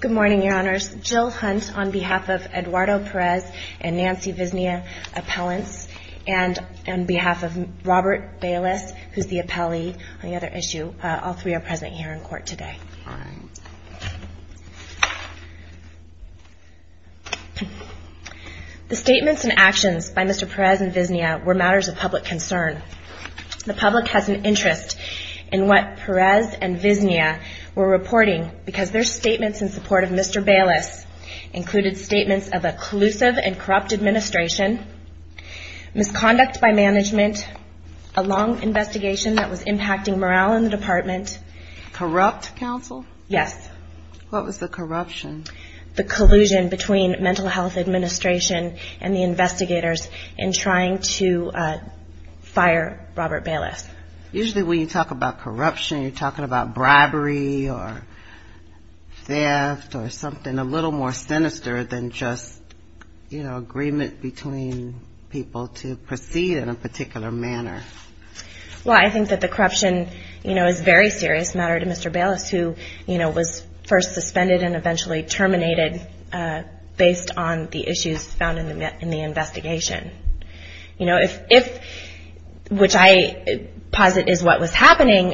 Good morning, your honors. Jill Hunt on behalf of Eduardo Perez and Nancy Viznia, appellants, and on behalf of Robert Baylis, who's the appellee on the other issue, all three are present here in court today. The statements and actions by Mr. Perez and Viznia were matters of public concern. The were reporting because their statements in support of Mr. Baylis included statements of a collusive and corrupt administration, misconduct by management, a long investigation that was impacting morale in the department. Corrupt counsel? Yes. What was the corruption? The collusion between mental health administration and the investigators in trying to fire Robert Baylis. Usually when you talk about corruption, you're talking about bribery or theft or something a little more sinister than just agreement between people to proceed in a particular manner. Well, I think that the corruption is a very serious matter to Mr. Baylis, who was first suspended and eventually terminated based on the issues found in the investigation. If, which I posit is what was happening,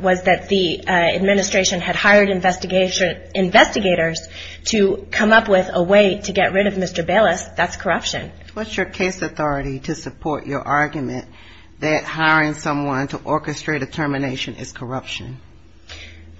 was that the administration had hired investigators to come up with a way to get rid of Mr. Baylis, that's corruption. What's your case authority to support your argument that hiring someone to orchestrate a termination is corruption?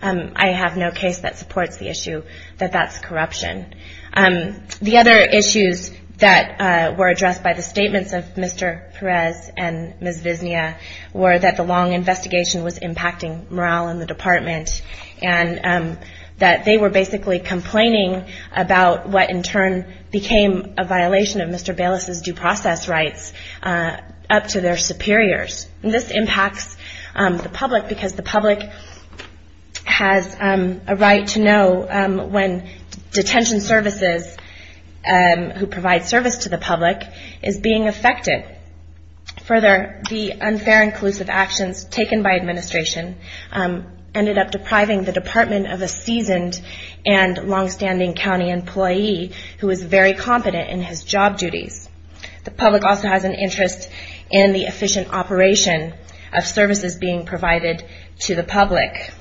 I have no case that supports the issue that that's corruption. The other issues that were the statements of Mr. Perez and Ms. Viznia were that the long investigation was impacting morale in the department and that they were basically complaining about what in turn became a violation of Mr. Baylis' due process rights up to their superiors. This impacts the public because the public has a right to know when detention services who provide service to the public is being affected. Further, the unfair and collusive actions taken by administration ended up depriving the department of a seasoned and longstanding county employee who is very competent in his job duties. The public also has an interest in the efficient operation of services being provided to the public.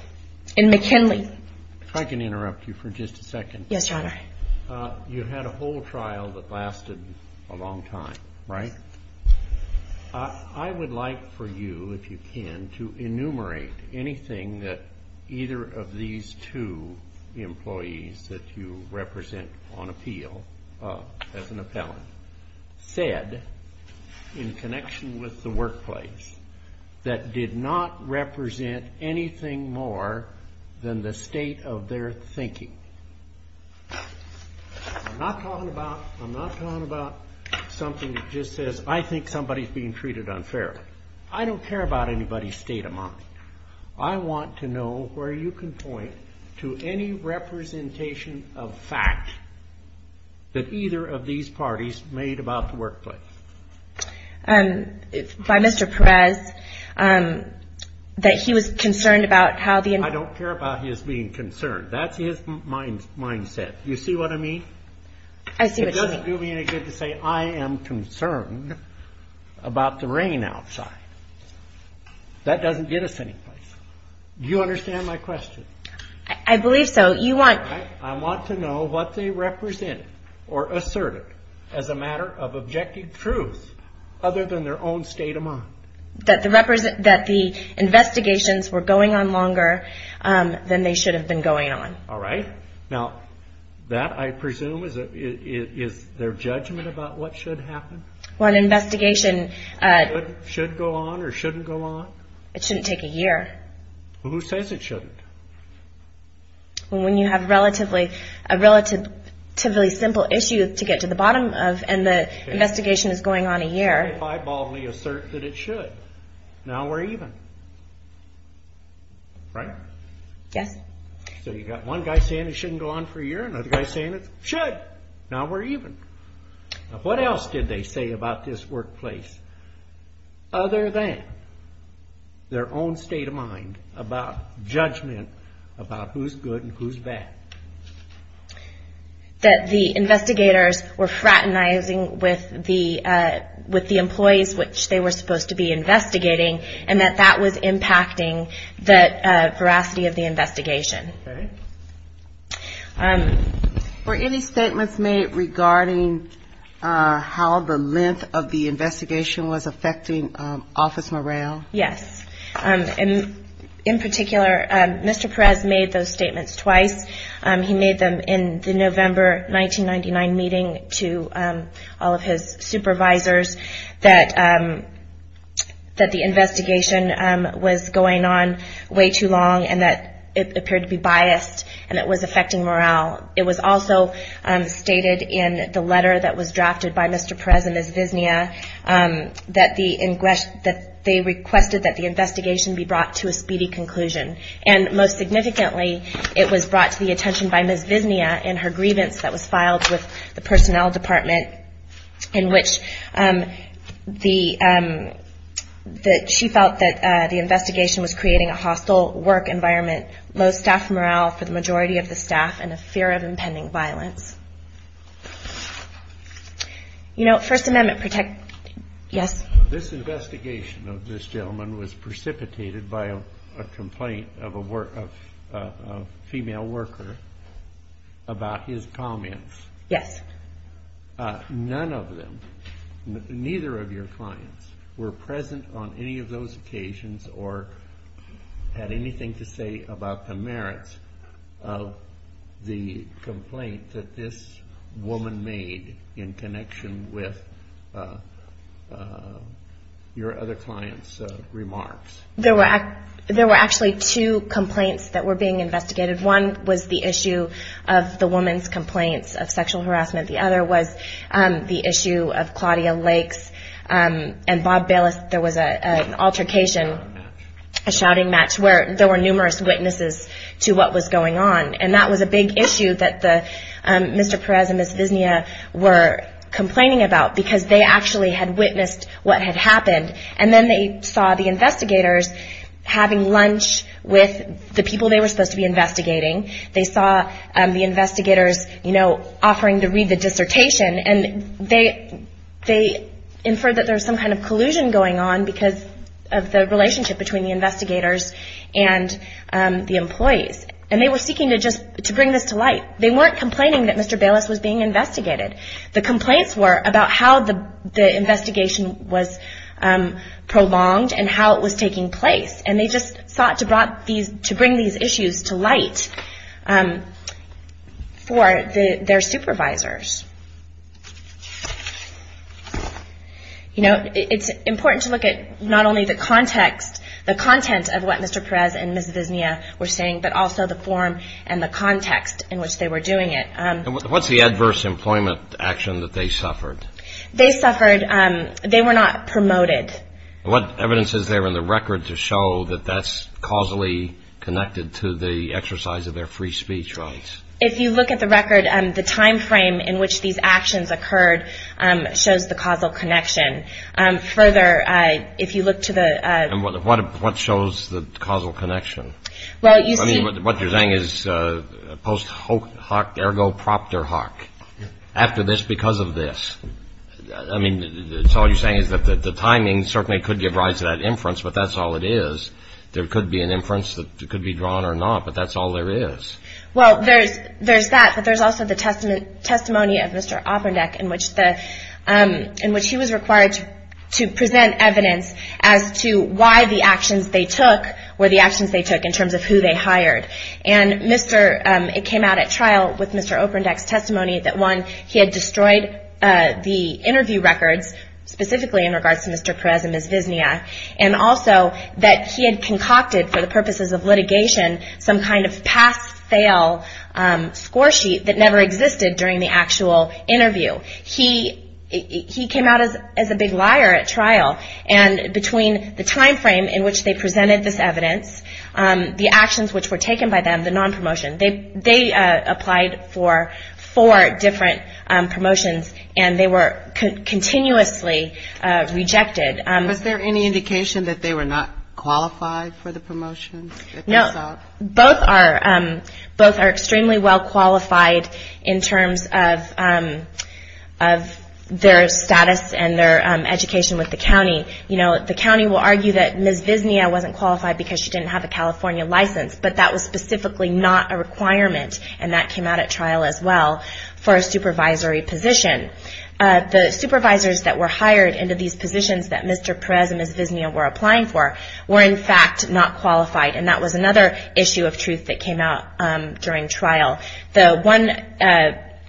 I would like for you, if you can, to enumerate anything that either of these two employees that you represent on appeal, as an appellant, said in connection with the workplace that did not represent anything more than the state of their thinking. I'm not talking about something that just says, I think somebody is being treated unfairly. I don't care about anybody's state of mind. I want to know where you can point to any representation of fact that either of these parties made about the workplace. By Mr. Perez, that he was concerned about how the... I don't care about his being concerned. That's his mindset. You see what I mean? I see what you mean. It doesn't do me any good to say, I am concerned about the rain outside. That doesn't get us any place. Do you understand my question? I believe so. You want... I want to know what they represented or asserted as a matter of objective truth, other than their own state of mind. That the investigations were going on longer than they should have been going on. All right. Now, that, I presume, is their judgment about what should happen? Well, an investigation... Should go on or shouldn't go on? It shouldn't take a year. Who says it shouldn't? Well, when you have a relatively simple issue to get to the bottom of, and the investigation is going on a year... If I boldly assert that it should, now we're even. Right? Yes. So, you've got one guy saying it shouldn't go on for a year, another guy saying it should. Now we're even. What else did they say about this workplace, other than their own state of mind about judgment about who's good and who's bad? That the investigators were fraternizing with the employees which they were supposed to be investigating, and that that was impacting the veracity of the investigation. Were any statements made regarding how the length of the investigation was affecting office morale? Yes. In particular, Mr. Perez made those statements twice. He made them in the November 1999 meeting to all of his supervisors that the investigation was going on way too long and that it appeared to be biased, and it was affecting morale. It was also stated in the letter that was drafted by Mr. Perez and Ms. Visnia that they requested that the investigation be brought to a speedy conclusion. And most significantly, it was brought to the attention by Ms. Visnia in her grievance that was filed with the personnel department in which she felt that the investigation was creating a hostile work environment, low staff morale for the majority of the staff, and a fear of impending violence. You know, First Amendment protect... Yes? This investigation of this gentleman was precipitated by a complaint of a female worker about his comments. Yes. None of them, neither of your clients, were present on any of those occasions or had anything to say about the merits of the complaint that this woman made in connection with your other clients' remarks. There were actually two complaints that were being investigated. One was the issue of the woman's complaints of sexual harassment. The other was the issue of Claudia Lake's and there were numerous witnesses to what was going on. And that was a big issue that Mr. Perez and Ms. Visnia were complaining about because they actually had witnessed what had happened. And then they saw the investigators having lunch with the people they were supposed to be investigating. They saw the investigators, you know, offering to read the dissertation. And they inferred that there was some kind of collusion going on because of the relationship between the investigators and the employees. And they were seeking to just bring this to light. They weren't complaining that Mr. Bayless was being investigated. The complaints were about how the investigation was prolonged and how it was taking place. And they just sought to bring these issues to light for their supervisors. You know, it's important to look at not only the context, the content of what Mr. Perez and Ms. Visnia were saying, but also the form and the context in which they were doing it. And what's the adverse employment action that they suffered? They suffered, they were not promoted. What evidence is there in the record to show that that's causally connected to the exercise of their free speech rights? If you look at the record, the time frame in which these actions occurred shows the causal connection. Further, if you look to the... What shows the causal connection? What you're saying is post hoc ergo propter hoc. After this, because of this. I mean, it's all you're saying is that the timing certainly could give rise to that inference, but that's all it is. There could be an inference that could be drawn or not, but that's all there is. Well, there's that, but there's also the testimony of Mr. Oprendek in which he was required to present evidence as to why the actions they took were the actions they took in terms of who they hired. And it came out at trial with Mr. Oprendek's testimony that one, he had destroyed the interview records specifically in regards to Mr. Perez and Ms. Visnia, and also that he had concocted for the purposes of litigation some kind of pass-fail score sheet that never existed during the actual interview. He came out as a big liar at trial. And between the time frame in which they presented this evidence, the actions which were taken by them, the non-promotion, they applied for four different promotions, and they were continuously rejected. Was there any indication that they were not qualified for the promotion? No. Both are extremely well qualified in terms of their status and their education with the county. The county will argue that Ms. Visnia wasn't qualified because she didn't have a California license, but that was specifically not a requirement, and that came out at trial as well for a supervisory position. The supervisors that were hired into these positions that Mr. Perez and Ms. Visnia were applying for were in fact not qualified, and that was another issue of truth that came out during trial. The one,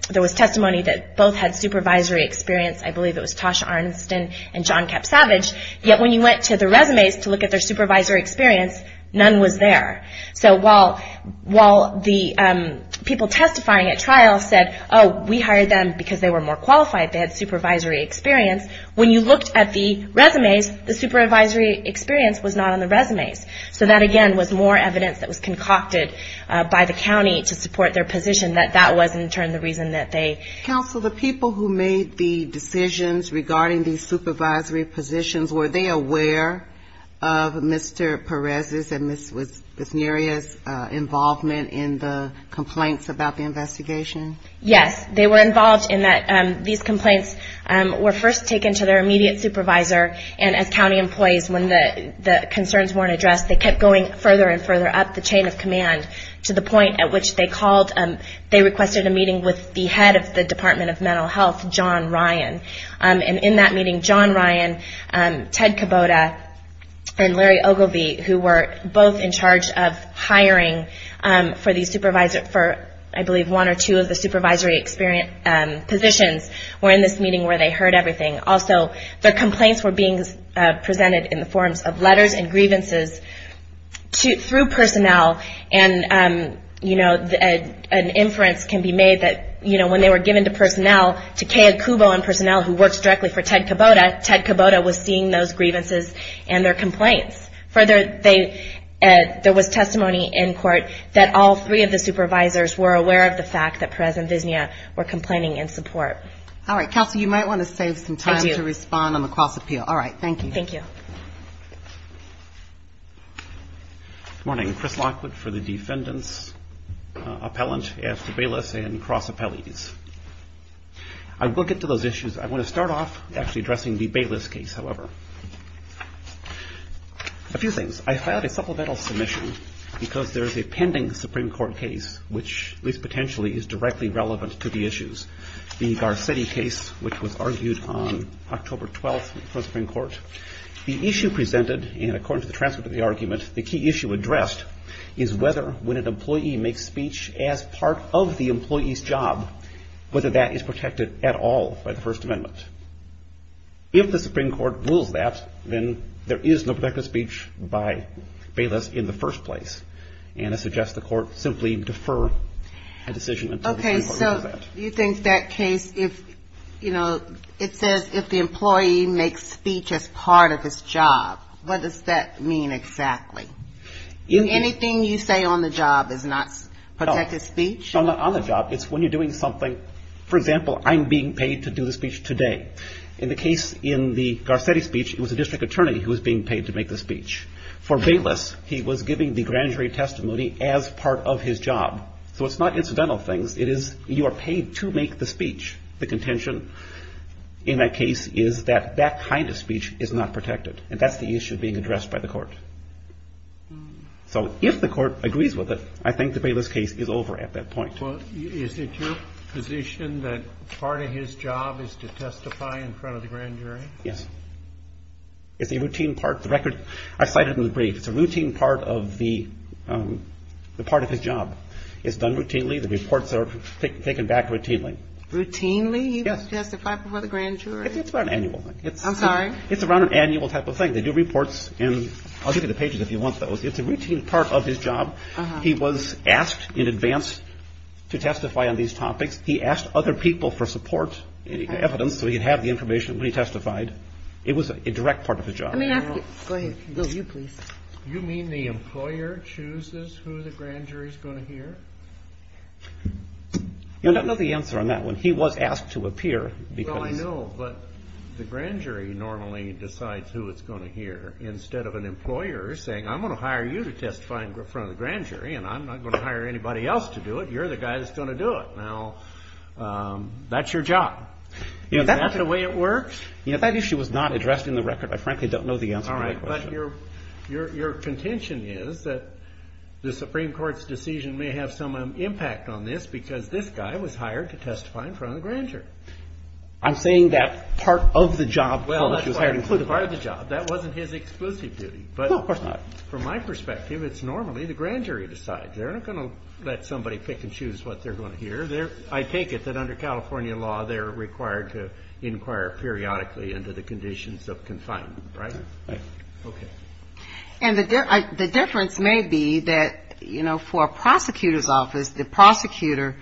there was testimony that both had supervisory experience, I believe it was Tasha Arnston and John Kapsavage, yet when you went to the resumes to look at their supervisory experience, none was there. So while the people testifying at trial said, oh, we hired them because they were more qualified, they had supervisory experience, when you looked at the resumes, the supervisory experience was not on the resumes. So that, again, was more evidence that was concocted by the county to support their position that that was in turn the reason that they... Counsel, the people who made the decisions regarding these supervisory positions, were they aware of Mr. Perez's and Ms. Visnia's involvement in the complaints about the investigation? Yes, they were involved in that. These complaints were first taken to their immediate supervisor, and as county employees, when the concerns weren't addressed, they kept going further and further up the chain of command to the point at which they called, they requested a meeting with the head of the Department of Mental Health, John Ryan. In that meeting, John Ryan, Ted Kubota, and Larry Ogilvie, who were both in charge of hiring for the supervisor, for, I believe, one or two of the supervisory positions, were in this meeting where they heard everything. Also, their complaints were being presented in the forms of letters and grievances through personnel and, you know, an inference can be made that, you know, when they were given to personnel, to Kay Akubo and personnel who worked directly for Ted Kubota, Ted Kubota was seeing those grievances and their complaints. Further, there was testimony in court that all three of the supervisors were aware of the fact that Perez and Visnia were complaining in support. All right, Counsel, you might want to save some time to respond on the cross-appeal. Thank you. Good morning. I'm Chris Lockwood for the Defendant's Appellant at the Baylis and Cross Appellees. I will get to those issues. I want to start off actually addressing the Baylis case, however. A few things. I had a supplemental submission because there is a pending Supreme Court case which, at least potentially, is directly relevant to the issues. The Garcetti case, which was argued on October 12th for the Supreme Court. The issue presented, and according to the transcript of the argument, the key issue addressed is whether, when an employee makes speech as part of the employee's job, whether that is protected at all by the First Amendment. If the Supreme Court rules that, then there is no protected speech by Baylis in the first place. And I suggest the Court simply defer a decision until the Supreme Court rules that. You think that case, if, you know, it says if the employee makes speech as part of his job, what does that mean exactly? Anything you say on the job is not protected speech? No, not on the job. It's when you're doing something, for example, I'm being paid to do the speech today. In the case in the Garcetti speech, it was the district attorney who was being paid to make the speech. For Baylis, he was giving the grand jury testimony as part of his job. So it's not incidental things. It is, you are paid to make the speech. The contention in that case is that that kind of speech is not protected, and that's the issue being addressed by the Court. So if the Court agrees with it, I think the Baylis case is over at that point. Well, is it your position that part of his job is to testify in front of the grand jury? Yes. It's a routine part. The record, I cited in the brief, it's a routine part of the, the part of his job. It's done routinely. The reports are taken back routinely. Routinely? Yes. You testify before the grand jury? It's about an annual thing. I'm sorry? It's around an annual type of thing. They do reports, and I'll give you the pages if you want those. It's a routine part of his job. Uh-huh. He was asked in advance to testify on these topics. He asked other people for support, evidence, so he could have the information when he testified. It was a direct part of his job. Go ahead. Will, you, please. You mean the employer chooses who the grand jury is going to hear? Yes. I don't know the answer on that one. He was asked to appear because... Well, I know, but the grand jury normally decides who it's going to hear, instead of an employer saying, I'm going to hire you to testify in front of the grand jury, and I'm not going to hire anybody else to do it. You're the guy that's going to do it. Now, that's your job. Is that the way it works? You know, that issue was not addressed in the record. I frankly don't know the answer to that question. All right. But your, your, your contention is that the Supreme Court's decision may have been made by the grand jury. It's just that the grand jury has decided to hire me. And I think that it may have some impact on this because this guy was hired to testify in front of the grand jury. I'm saying that part of the job... Well, that's part of the job. ...was hired to do. That wasn't his exclusive duty. No, of course not. But from my perspective, it's normally the grand jury decides. They're not going to let somebody pick and choose what they're going to hear. I take it that under California law, they're required to inquire periodically into the conditions of confinement, right? Right. Okay. And the difference may be that, you know, for a prosecutor's office, the prosecutor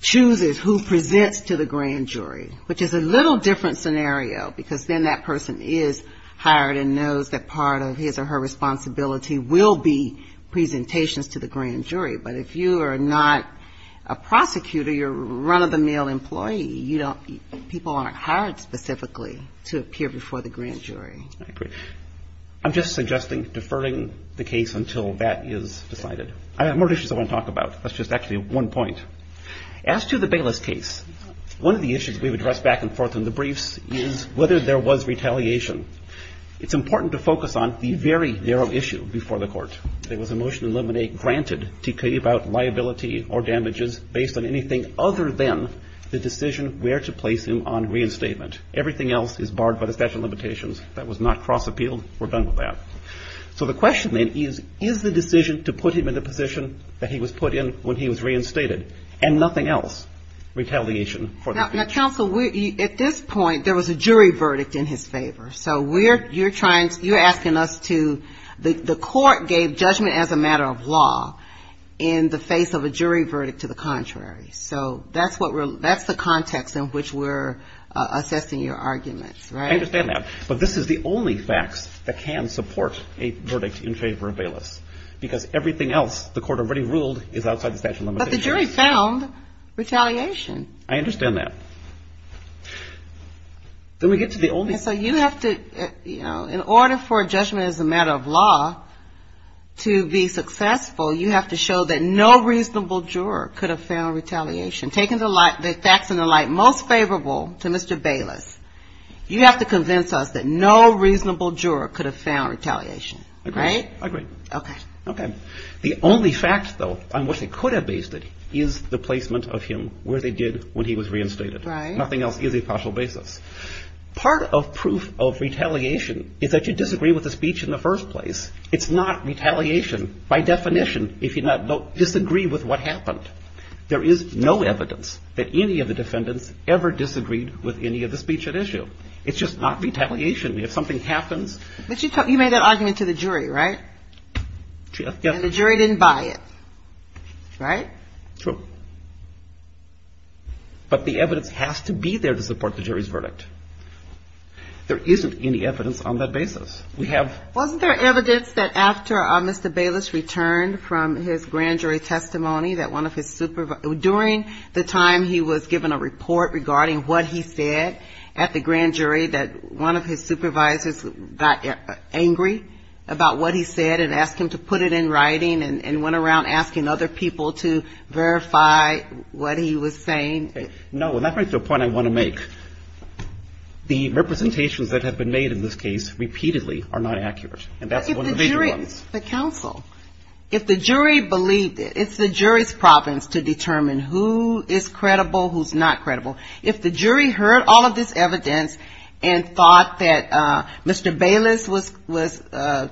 chooses who presents to the grand jury, which is a little different scenario because then that person is hired and knows that part of his or her responsibility will be presentations to the grand jury. But if you are not a prosecutor, you're a run-of-the-mill employee, you don't, people aren't hired specifically to appear before the grand jury. I agree. I'm just suggesting deferring the case until that is decided. I have more issues I want to talk about. That's just actually one point. As to the Bayless case, one of the issues we've addressed back and forth in the briefs is whether there was retaliation. It's important to focus on the very narrow issue before the court. There was a motion in Limine granted to keep out liability or damages based on anything other than the decision where to place him on reinstatement. Everything else is barred by the statute of limitations. That was not cross-appealed. We're done with that. So the question then is, is the decision to put him in the position that he was put in when he was reinstated, and nothing else, retaliation for that? Now, counsel, at this point, there was a jury verdict in his favor. So you're asking us to the court gave judgment as a matter of law in the face of a jury verdict to the contrary. So that's the context in which we're assessing your arguments, right? I understand that. But this is the only facts that can support a verdict in favor of Bayless, because everything else the court already ruled is outside the statute of limitations. But the jury found retaliation. I understand that. Then we get to the only thing. So you have to, you know, in order for a judgment as a matter of law to be successful, you have to show that no reasonable juror could have found retaliation. Taking the facts into light, most favorable to Mr. Bayless, you have to convince us that no reasonable juror could have found retaliation, right? I agree. Okay. Okay. The only fact, though, on which they could have based it is the placement of him where they did when he was reinstated. Right. Nothing else is a partial basis. Part of proof of retaliation is that you disagree with the speech in the first place. It's not retaliation by definition if you disagree with what happened. There is no evidence that any of the defendants ever disagreed with any of the speech at issue. It's just not retaliation. If something happens. But you made that argument to the jury, right? Yes. And the jury didn't buy it, right? True. But the evidence has to be there to support the jury's verdict. There isn't any evidence on that basis. We have. Wasn't there evidence that after Mr. Bayless returned from his grand jury testimony during the time he was given a report regarding what he said at the grand jury that one of his supervisors got angry about what he said and asked him to put it in writing and went around asking other people to verify what he was saying? No. And that brings to a point I want to make. The representations that have been made in this case repeatedly are not accurate. And that's one of the major ones. But if the jury, the counsel, if the jury believed it, it's the jury's problems to determine who is credible, who's not credible. If the jury heard all of this evidence and thought that Mr. Bayless was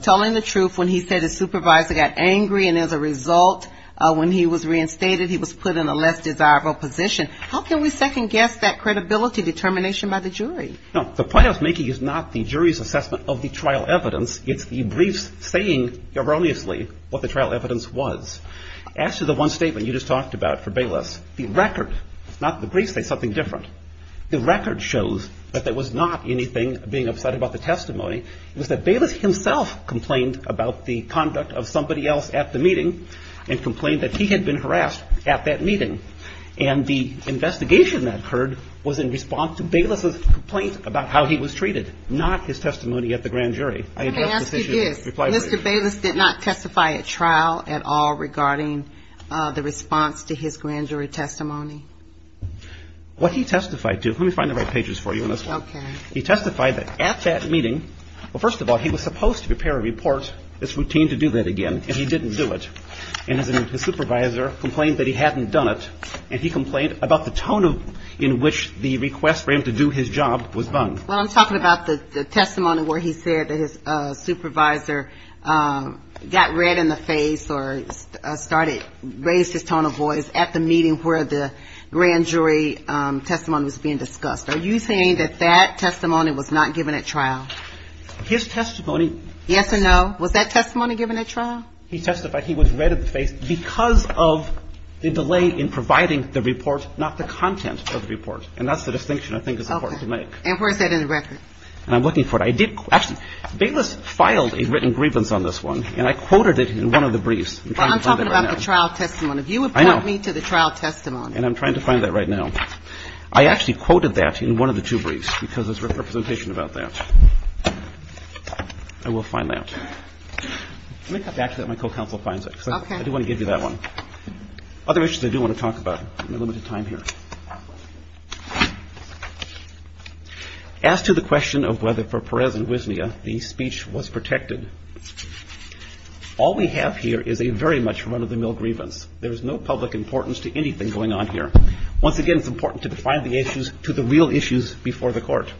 telling the truth when he said his supervisor got angry and as a result when he was reinstated he was put in a less desirable position, how can we second guess that credibility determination by the jury? No, the point I was making is not the jury's assessment of the trial evidence. It's the briefs saying erroneously what the trial evidence was. As to the one statement you just talked about for Bayless, the record, not the briefs say something different. The record shows that there was not anything being upset about the testimony. It was that Bayless himself complained about the conduct of somebody else at the meeting and complained that he had been harassed at that meeting. And the investigation that occurred was in response to Bayless' complaint about how he was treated, not his testimony at the grand jury. I address this issue in reply to your question. Let me ask you this. Mr. Bayless did not testify at trial at all regarding the response to his grand jury testimony? What he testified to, let me find the right pages for you on this one. Okay. He testified that at that meeting, well, first of all, he was supposed to prepare a report, it's routine to do that again, and he didn't do it. And his supervisor complained that he hadn't done it, and he complained about the tone in which the request for him to do his job was done. Well, I'm talking about the testimony where he said that his supervisor got red in the face or started, raised his tone of voice at the meeting where the grand jury testimony was being discussed. Are you saying that that testimony was not given at trial? His testimony was. Yes or no? Was that testimony given at trial? He testified he was red in the face because of the delay in providing the report, not the content of the report. And that's the distinction I think is important to make. Okay. And where is that in the record? And I'm looking for it. I did, actually, Bayless filed a written grievance on this one, and I quoted it in one of the briefs. I'm trying to find that right now. Well, I'm talking about the trial testimony. I know. And I'm trying to find that right now. I actually quoted that in one of the two briefs because there's representation about that. I will find that. Let me cut back so that my co-counsel finds it. Okay. Because I do want to give you that one. Other issues I do want to talk about. I have limited time here. As to the question of whether for Perez and Wisnia the speech was protected, all we have here is a very much run-of-the-mill grievance. There's no public importance to anything going on here. Once again, it's important to define the issues to the real issues before the court.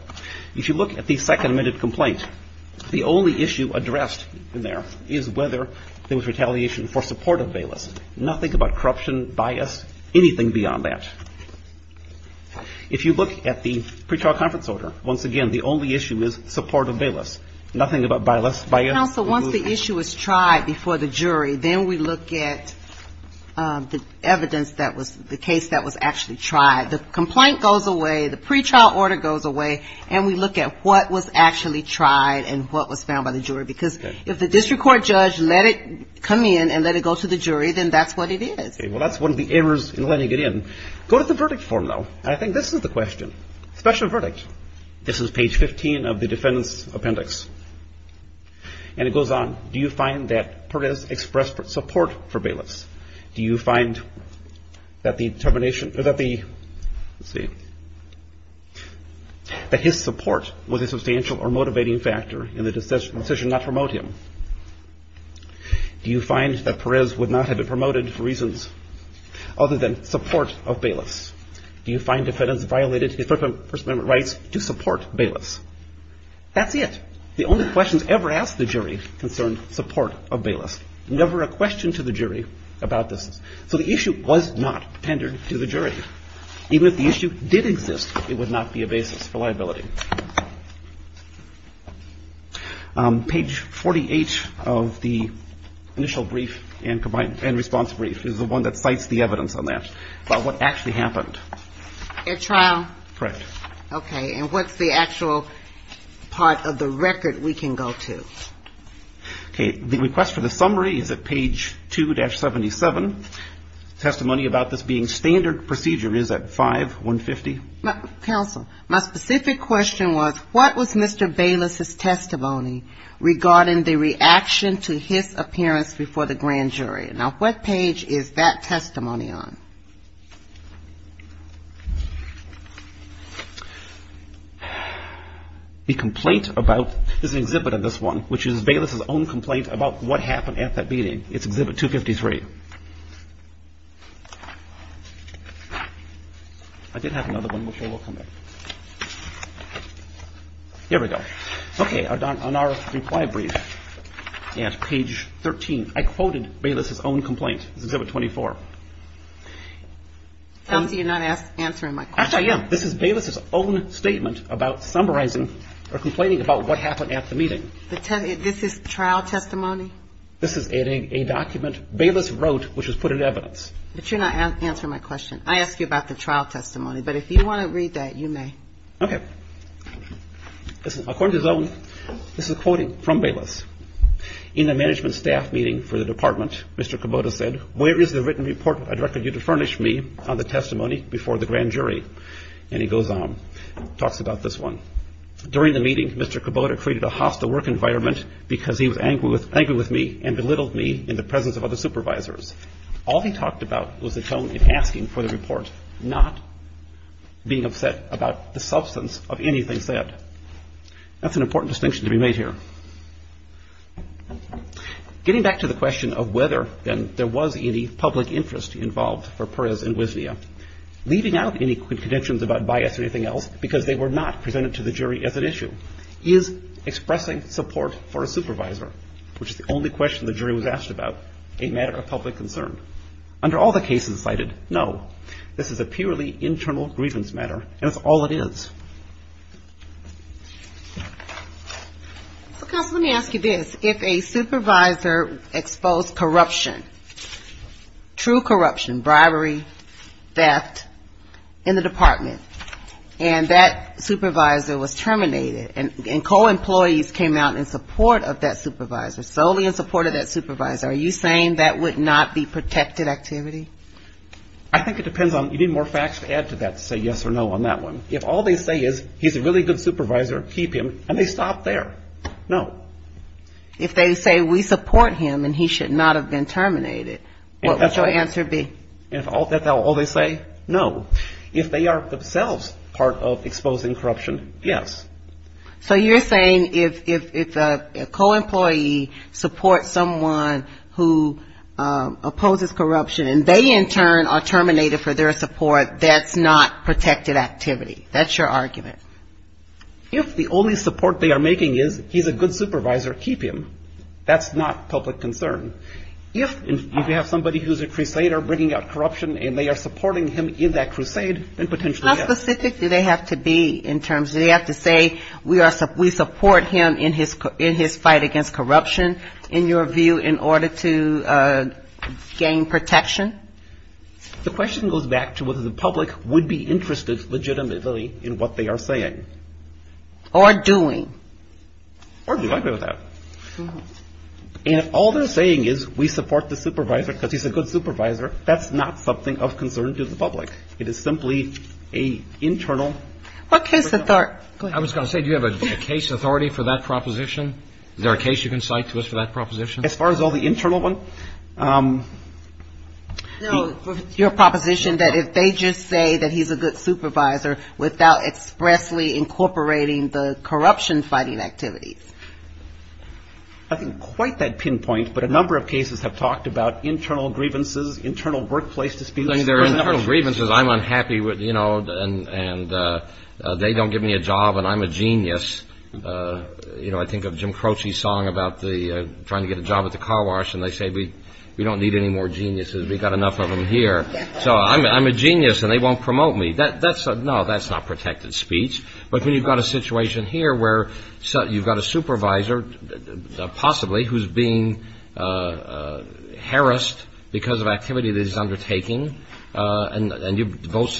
If you look at the second-amended complaint, the only issue addressed in there is whether there was retaliation for support of Bayless. Nothing about corruption, bias, anything beyond that. If you look at the pretrial conference order, once again, the only issue is support of Bayless. Nothing about bias. Counsel, once the issue is tried before the jury, then we look at the evidence, the case that was actually tried. The complaint goes away, the pretrial order goes away, and we look at what was actually tried and what was found by the jury. Because if the district court judge let it come in and let it go to the jury, then that's what it is. Well, that's one of the errors in letting it in. Go to the verdict form, though, and I think this is the question. Special verdict. This is page 15 of the defendant's appendix. And it goes on. Do you find that Perez expressed support for Bayless? Do you find that his support was a substantial or motivating factor in the decision not to promote him? Do you find that Perez would not have been promoted for reasons other than support of Bayless? Do you find defendants violated his First Amendment rights to support Bayless? That's it. The only questions ever asked the jury concerned support of Bayless. Never a question to the jury about this. So the issue was not tendered to the jury. Even if the issue did exist, it would not be a basis for liability. Page 48 of the initial brief and combined response brief is the one that cites the evidence on that about what actually happened. At trial? Correct. Okay, and what's the actual part of the record we can go to? Okay, the request for the summary is at page 2-77. Testimony about this being standard procedure is at 5-150. Counsel, my specific question was what was Mr. Bayless' testimony regarding the reaction to his appearance before the grand jury? Now, what page is that testimony on? The complaint about this exhibit of this one, which is Bayless' own complaint about what happened at that meeting. It's exhibit 253. I did have another one which I will come back to. Here we go. Okay, on our reply brief at page 13, I quoted Bayless' own complaint. It's exhibit 24. Counsel, you're not answering my question. Actually, I am. This is Bayless' own statement about summarizing or complaining about what happened at the meeting. This is trial testimony? This is a document Bayless wrote which was put in evidence. But you're not answering my question. I asked you about the trial testimony, but if you want to read that, you may. Okay. According to his own, this is a quoting from Bayless. In a management staff meeting for the department, Mr. Kubota said, where is the written report I directed you to furnish me on the testimony before the grand jury? And he goes on and talks about this one. During the meeting, Mr. Kubota created a hostile work environment because he was angry with me and belittled me in the presence of other supervisors. All he talked about was the tone in asking for the report, not being upset about the substance of anything said. That's an important distinction to be made here. Getting back to the question of whether there was any public interest involved for Perez and Wisnia, leaving out any convictions about bias or anything else because they were not presented to the jury as an issue, is expressing support for a supervisor, which is the only question the jury was asked about, a matter of public concern. Under all the cases cited, no. This is a purely internal grievance matter, and that's all it is. Counsel, let me ask you this. If a supervisor exposed corruption, true corruption, bribery, theft, in the department, and that supervisor was terminated, and co-employees came out in support of that supervisor, solely in support of that supervisor, are you saying that would not be protected activity? I think it depends on... You need more facts to add to that to say yes or no on that one. If all they say is he's a really good supervisor, keep him, and they stop there, no. If they say we support him and he should not have been terminated, what would your answer be? If that's all they say, no. If they are themselves part of exposing corruption, yes. So you're saying if a co-employee supports someone who opposes corruption, and they in turn are terminated for their support, that's not protected activity? That's your argument? If the only support they are making is he's a good supervisor, keep him, that's not public concern. If you have somebody who's a crusader bringing out corruption and they are supporting him in that crusade, then potentially yes. How specific do they have to be in terms... Do they have to say we support him in his fight against corruption, in your view, in order to gain protection? The question goes back to whether the public would be interested legitimately in what they are saying. Or doing. Or do you agree with that? And if all they're saying is we support the supervisor because he's a good supervisor, that's not something of concern to the public. It is simply an internal... I was going to say, do you have a case authority for that proposition? Is there a case you can cite to us for that proposition? As far as all the internal one... No, your proposition that if they just say that he's a good supervisor without expressly incorporating the corruption-fighting activities. I think quite that pinpoint, but a number of cases have talked about internal grievances, internal workplace disputes. There are a number of grievances. I'm unhappy, you know, and they don't give me a job and I'm a genius. You know, I think of Jim Croce's song about trying to get a job at the car wash and they say we don't need any more geniuses. We've got enough of them here. So I'm a genius and they won't promote me. No, that's not protected speech. But when you've got a situation here where you've got a supervisor, possibly, who's being harassed because of activity that he's undertaking and you voice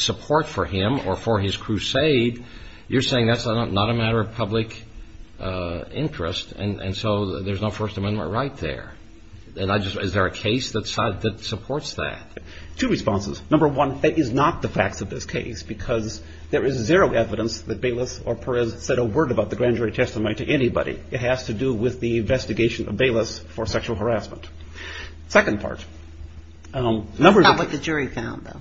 support for him or for his crusade, you're saying that's not a matter of public interest and so there's no First Amendment right there. And I just... Is there a case that supports that? Two responses. Number one, that is not the facts of this case because there is zero evidence that Baylis or Perez said a word about the grand jury testimony to anybody. It has to do with the investigation of Baylis for sexual harassment. Second part... That's not what the jury found, though.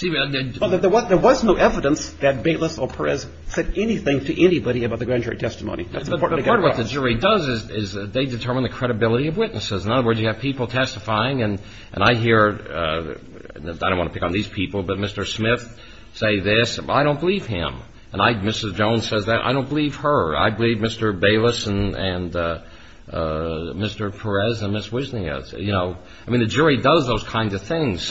There was no evidence that Baylis or Perez said anything to anybody about the grand jury testimony. The part of what the jury does is they determine the credibility of witnesses. In other words, you have people testifying and I hear... I don't want to pick on these people, but Mr. Smith say this. I don't believe him. And Mrs. Jones says that. I don't believe her. I believe Mr. Baylis and Mr. Perez and Ms. Wisniaz. I mean, the jury does those kinds of things.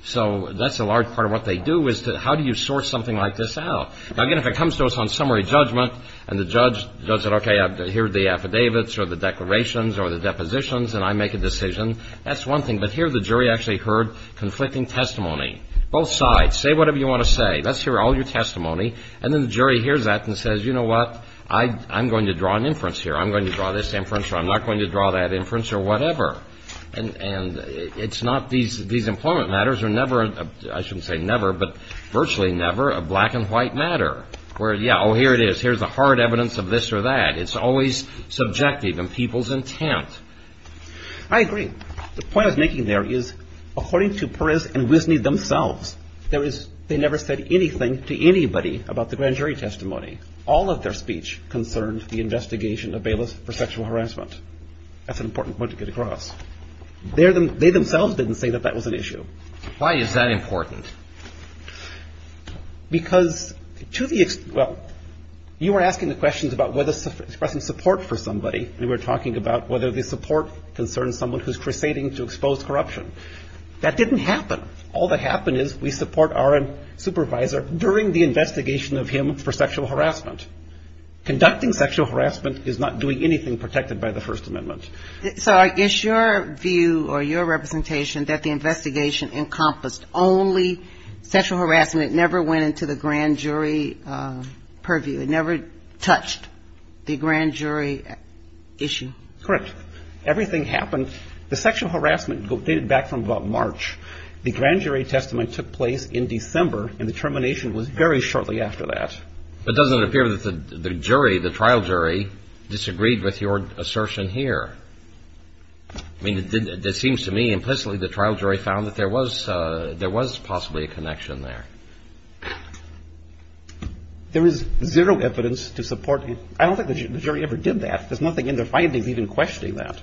So that's a large part of what they do is how do you source something like this out? Now, again, if it comes to us on summary judgment and the judge does it, okay, here are the affidavits or the declarations or the depositions and I make a decision, that's one thing. But here the jury actually heard conflicting testimony. Both sides, say whatever you want to say. Let's hear all your testimony. And then the jury hears that and says, you know what, I'm going to draw an inference here. I'm going to draw this inference or I'm not going to draw that inference or whatever. And it's not these employment matters are never, I shouldn't say never, but virtually never a black and white matter where, yeah, oh, here it is. Here's the hard evidence of this or that. It's always subjective in people's intent. I agree. The point I was making there is according to Perez and Wisniaz themselves, they never said anything to anybody about the grand jury testimony. All of their speech concerned the investigation of Baylis for sexual harassment. That's an important point to get across. They themselves didn't say that that was an issue. Why is that important? Because to the, well, you were asking the questions about whether expressing support for somebody. And we were talking about whether the support concerns someone who's crusading to expose corruption. That didn't happen. All that happened is we support our supervisor during the investigation of him for sexual harassment. Conducting sexual harassment is not doing anything protected by the First Amendment. So I guess your view or your representation that the investigation encompassed only sexual harassment. It never went into the grand jury purview. It never touched the grand jury issue. Correct. Everything happened. The sexual harassment dated back from about March. The grand jury testimony took place in December, and the termination was very shortly after that. But doesn't it appear that the jury, the trial jury, disagreed with your assertion here? I mean, it seems to me implicitly the trial jury found that there was possibly a connection there. There is zero evidence to support. I don't think the jury ever did that. There's nothing in their findings even questioning that.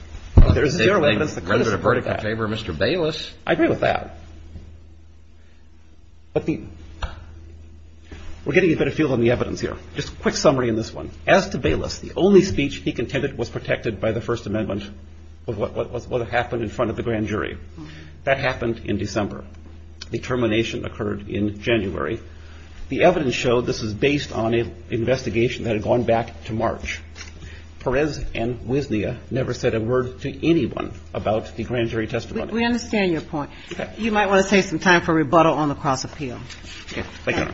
There's zero evidence that could support that. They rendered a verdict in favor of Mr. Baylis. I agree with that. We're getting a better feel on the evidence here. Just a quick summary on this one. As to Baylis, the only speech he contended was protected by the First Amendment of what happened in front of the grand jury. That happened in December. The termination occurred in January. The evidence showed this was based on an investigation that had gone back to March. Perez and Wisnia never said a word to anyone about the grand jury testimony. We understand your point. You might want to take some time for rebuttal on the cross-appeal. Thank you.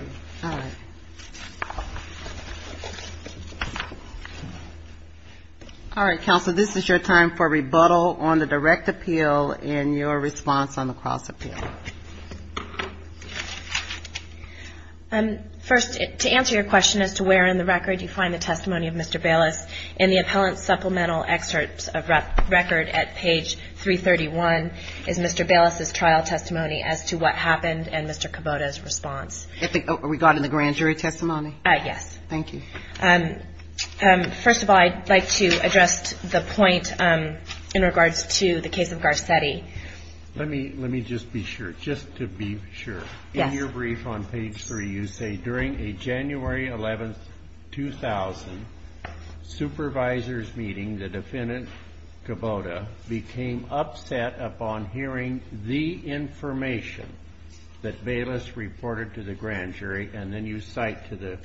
All right. All right, Counsel, this is your time for rebuttal on the direct appeal and your response on the cross-appeal. First, to answer your question as to where in the record you find the testimony of Mr. Baylis, in the appellant supplemental excerpt of record at page 331 is Mr. Baylis' trial testimony as to what happened and Mr. Kubota's response. Regarding the grand jury testimony? Yes. Thank you. First of all, I'd like to address the point in regards to the case of Garcetti. Let me just be sure. In your brief on page 3, you say, during a January 11, 2000, supervisors meeting, the defendant, Kubota, became upset upon hearing the information that Baylis reported to the grand jury, and then you cite to the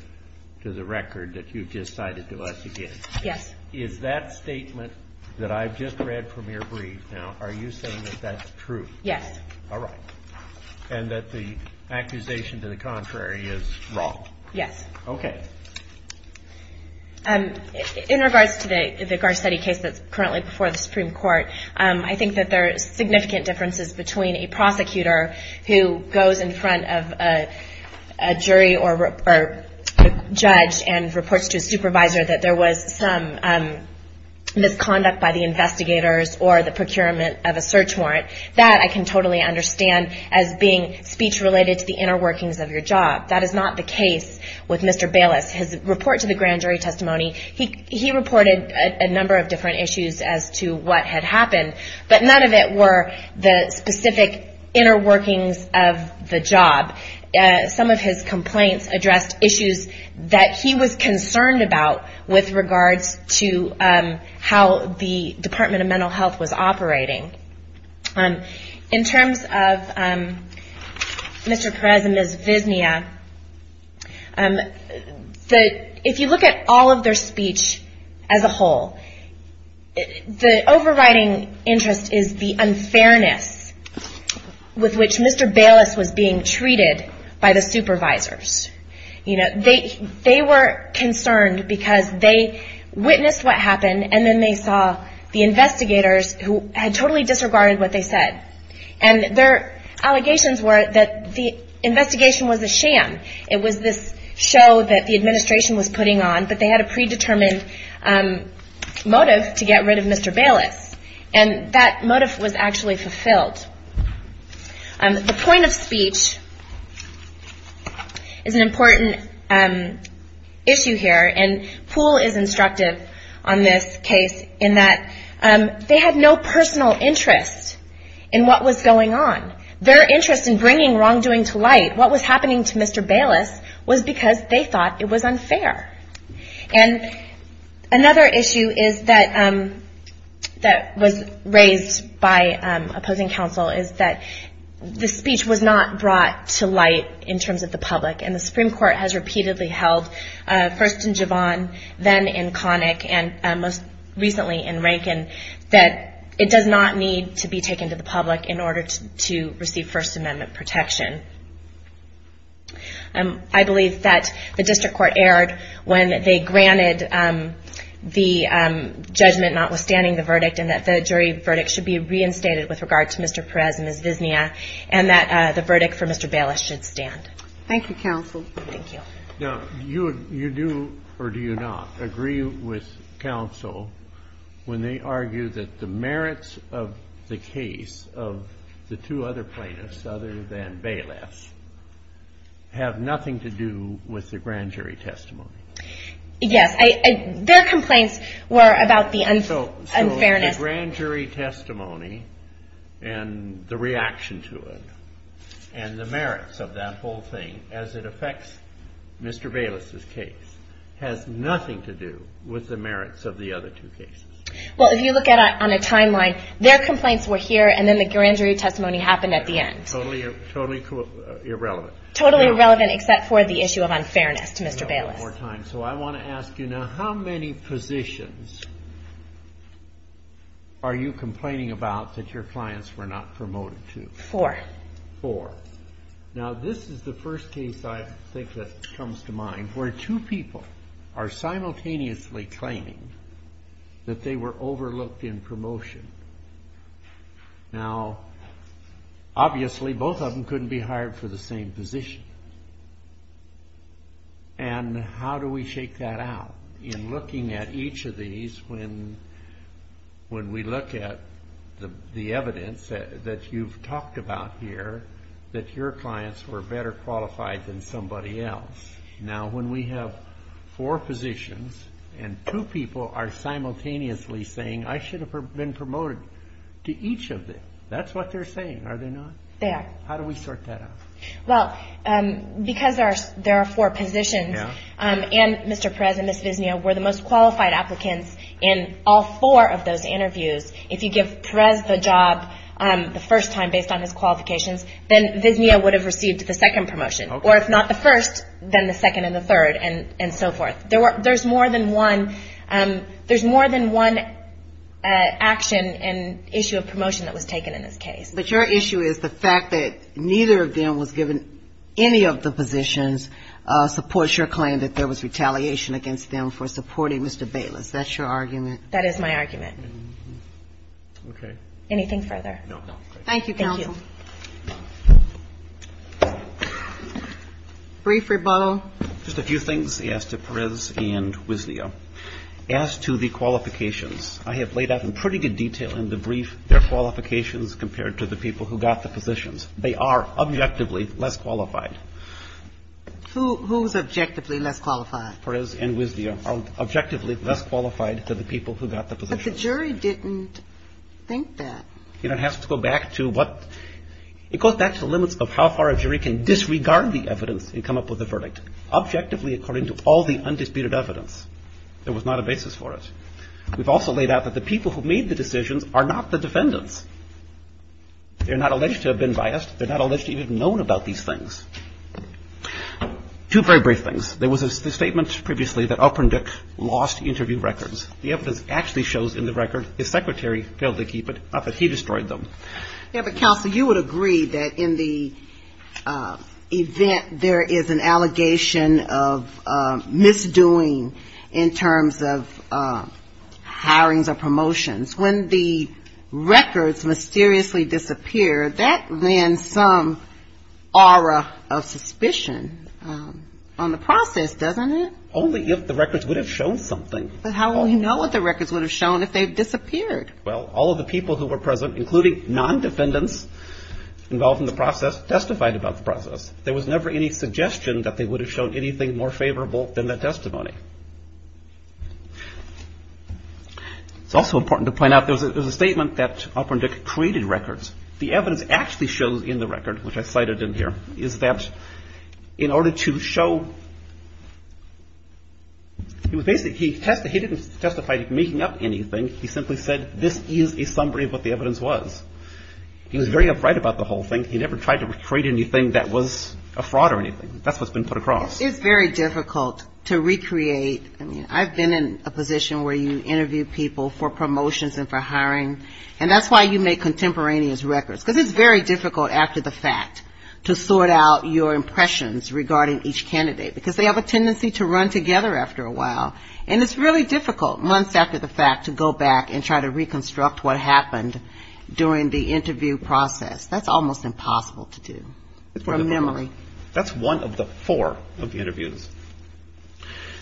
record that you just cited to us again. Yes. Is that statement that I've just read from your brief now, are you saying that that's true? Yes. All right. And that the accusation to the contrary is wrong? Yes. Okay. In regards to the Garcetti case that's currently before the Supreme Court, I think that there are significant differences between a prosecutor who goes in front of a jury or a judge and reports to a supervisor that there was some misconduct by the investigators or the procurement of a search warrant. That I can totally understand as being speech related to the inner workings of your job. That is not the case with Mr. Baylis. His report to the grand jury testimony, he reported a number of different issues as to what had happened, but none of it were the specific inner workings of the job. Some of his complaints addressed issues that he was concerned about with regards to how the Department of Mental Health was operating. In terms of Mr. Perez and Ms. Visnia, if you look at all of their speech as a whole, the overriding interest is the unfairness with which Mr. Baylis was being treated by the supervisors. They were concerned because they witnessed what happened and then they saw the investigators who had totally disregarded what they said. And their allegations were that the investigation was a sham. It was this show that the administration was putting on, but they had a predetermined motive to get rid of Mr. Baylis. And that motive was actually fulfilled. The point of speech is an important issue here, and Poole is instructive on this case in that they had no personal interest in what was going on. Their interest in bringing wrongdoing to light, what was happening to Mr. Baylis, was because they thought it was unfair. And another issue that was raised by opposing counsel is that the speech was not brought to light in terms of the public. And the Supreme Court has repeatedly held, first in Javon, then in Connick, and most recently in Rankin, that it does not need to be taken to the public in order to receive First Amendment protection. I believe that the district court erred when they granted the judgment notwithstanding the verdict and that the jury verdict should be reinstated with regard to Mr. Perez and Ms. Visnia, and that the verdict for Mr. Baylis should stand. Thank you, counsel. Thank you. Now, you do, or do you not, agree with counsel when they argue that the merits of the case of the two other plaintiffs, other than Baylis, have nothing to do with the grand jury testimony? Yes. Their complaints were about the unfairness. So the grand jury testimony and the reaction to it and the merits of that whole thing, as it affects Mr. Baylis' case, has nothing to do with the merits of the other two cases? Well, if you look at it on a timeline, their complaints were here and then the grand jury testimony happened at the end. Totally irrelevant. Totally irrelevant except for the issue of unfairness to Mr. Baylis. One more time. So I want to ask you now, how many positions are you complaining about that your clients were not promoted to? Four. Four. Now, this is the first case I think that comes to mind, where two people are simultaneously claiming that they were overlooked in promotion. Now, obviously, both of them couldn't be hired for the same position, and how do we shake that out? In looking at each of these, when we look at the evidence that you've talked about here, that your clients were better qualified than somebody else. Now, when we have four positions and two people are simultaneously saying, I should have been promoted to each of them, that's what they're saying, are they not? They are. How do we sort that out? Well, because there are four positions and Mr. Perez and Ms. Visnia were the most qualified applicants in all four of those interviews, if you give Perez the job the first time based on his qualifications, then Visnia would have received the second promotion. Okay. Or if not the first, then the second and the third, and so forth. There's more than one action and issue of promotion that was taken in this case. But your issue is the fact that neither of them was given any of the positions supports your claim that there was retaliation against them for supporting Mr. Bayless. That's your argument? That is my argument. Okay. Anything further? No. Thank you, counsel. Thank you. Brief rebuttal. Just a few things as to Perez and Visnia. As to the qualifications, I have laid out in pretty good detail in the brief their qualifications compared to the people who got the positions. They are objectively less qualified. Who's objectively less qualified? Perez and Visnia are objectively less qualified than the people who got the positions. But the jury didn't think that. You know, it has to go back to what? It goes back to the limits of how far a jury can disregard the evidence and come up with a verdict. Objectively according to all the undisputed evidence. There was not a basis for it. We've also laid out that the people who made the decisions are not the defendants. They're not alleged to have been biased. They're not alleged to even have known about these things. Two very brief things. There was a statement previously that Alpern Dick lost interview records. The evidence actually shows in the record his secretary failed to keep it. He destroyed them. Yeah, but Counsel, you would agree that in the event there is an allegation of misdoing in terms of hirings or promotions. When the records mysteriously disappear, that lends some aura of suspicion on the process, doesn't it? Only if the records would have shown something. But how will you know what the records would have shown if they had disappeared? Well, all of the people who were present, including non-defendants involved in the process, testified about the process. There was never any suggestion that they would have shown anything more favorable than that testimony. It's also important to point out there was a statement that Alpern Dick created records. The evidence actually shows in the record, which I cited in here, is that in order to show. He didn't testify to making up anything. He simply said this is a summary of what the evidence was. He was very upright about the whole thing. He never tried to create anything that was a fraud or anything. That's what's been put across. It's very difficult to recreate. I mean, I've been in a position where you interview people for promotions and for hiring. And that's why you make contemporaneous records. Because it's very difficult after the fact to sort out your impressions regarding each candidate. Because they have a tendency to run together after a while. And it's really difficult months after the fact to go back and try to reconstruct what happened during the interview process. That's almost impossible to do from memory. That's one of the four of the interviews.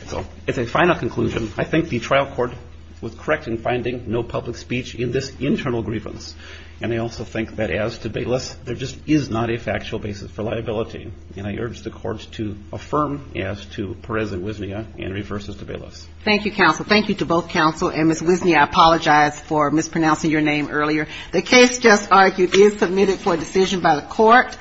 So as a final conclusion, I think the trial court was correct in finding no public speech in this internal grievance. And I also think that as to Bayless, there just is not a factual basis for liability. And I urge the courts to affirm as to Perez and Wisnia in reverses to Bayless. Thank you, counsel. Thank you to both counsel and Ms. Wisnia. I apologize for mispronouncing your name earlier. The case just argued is submitted for decision by the court.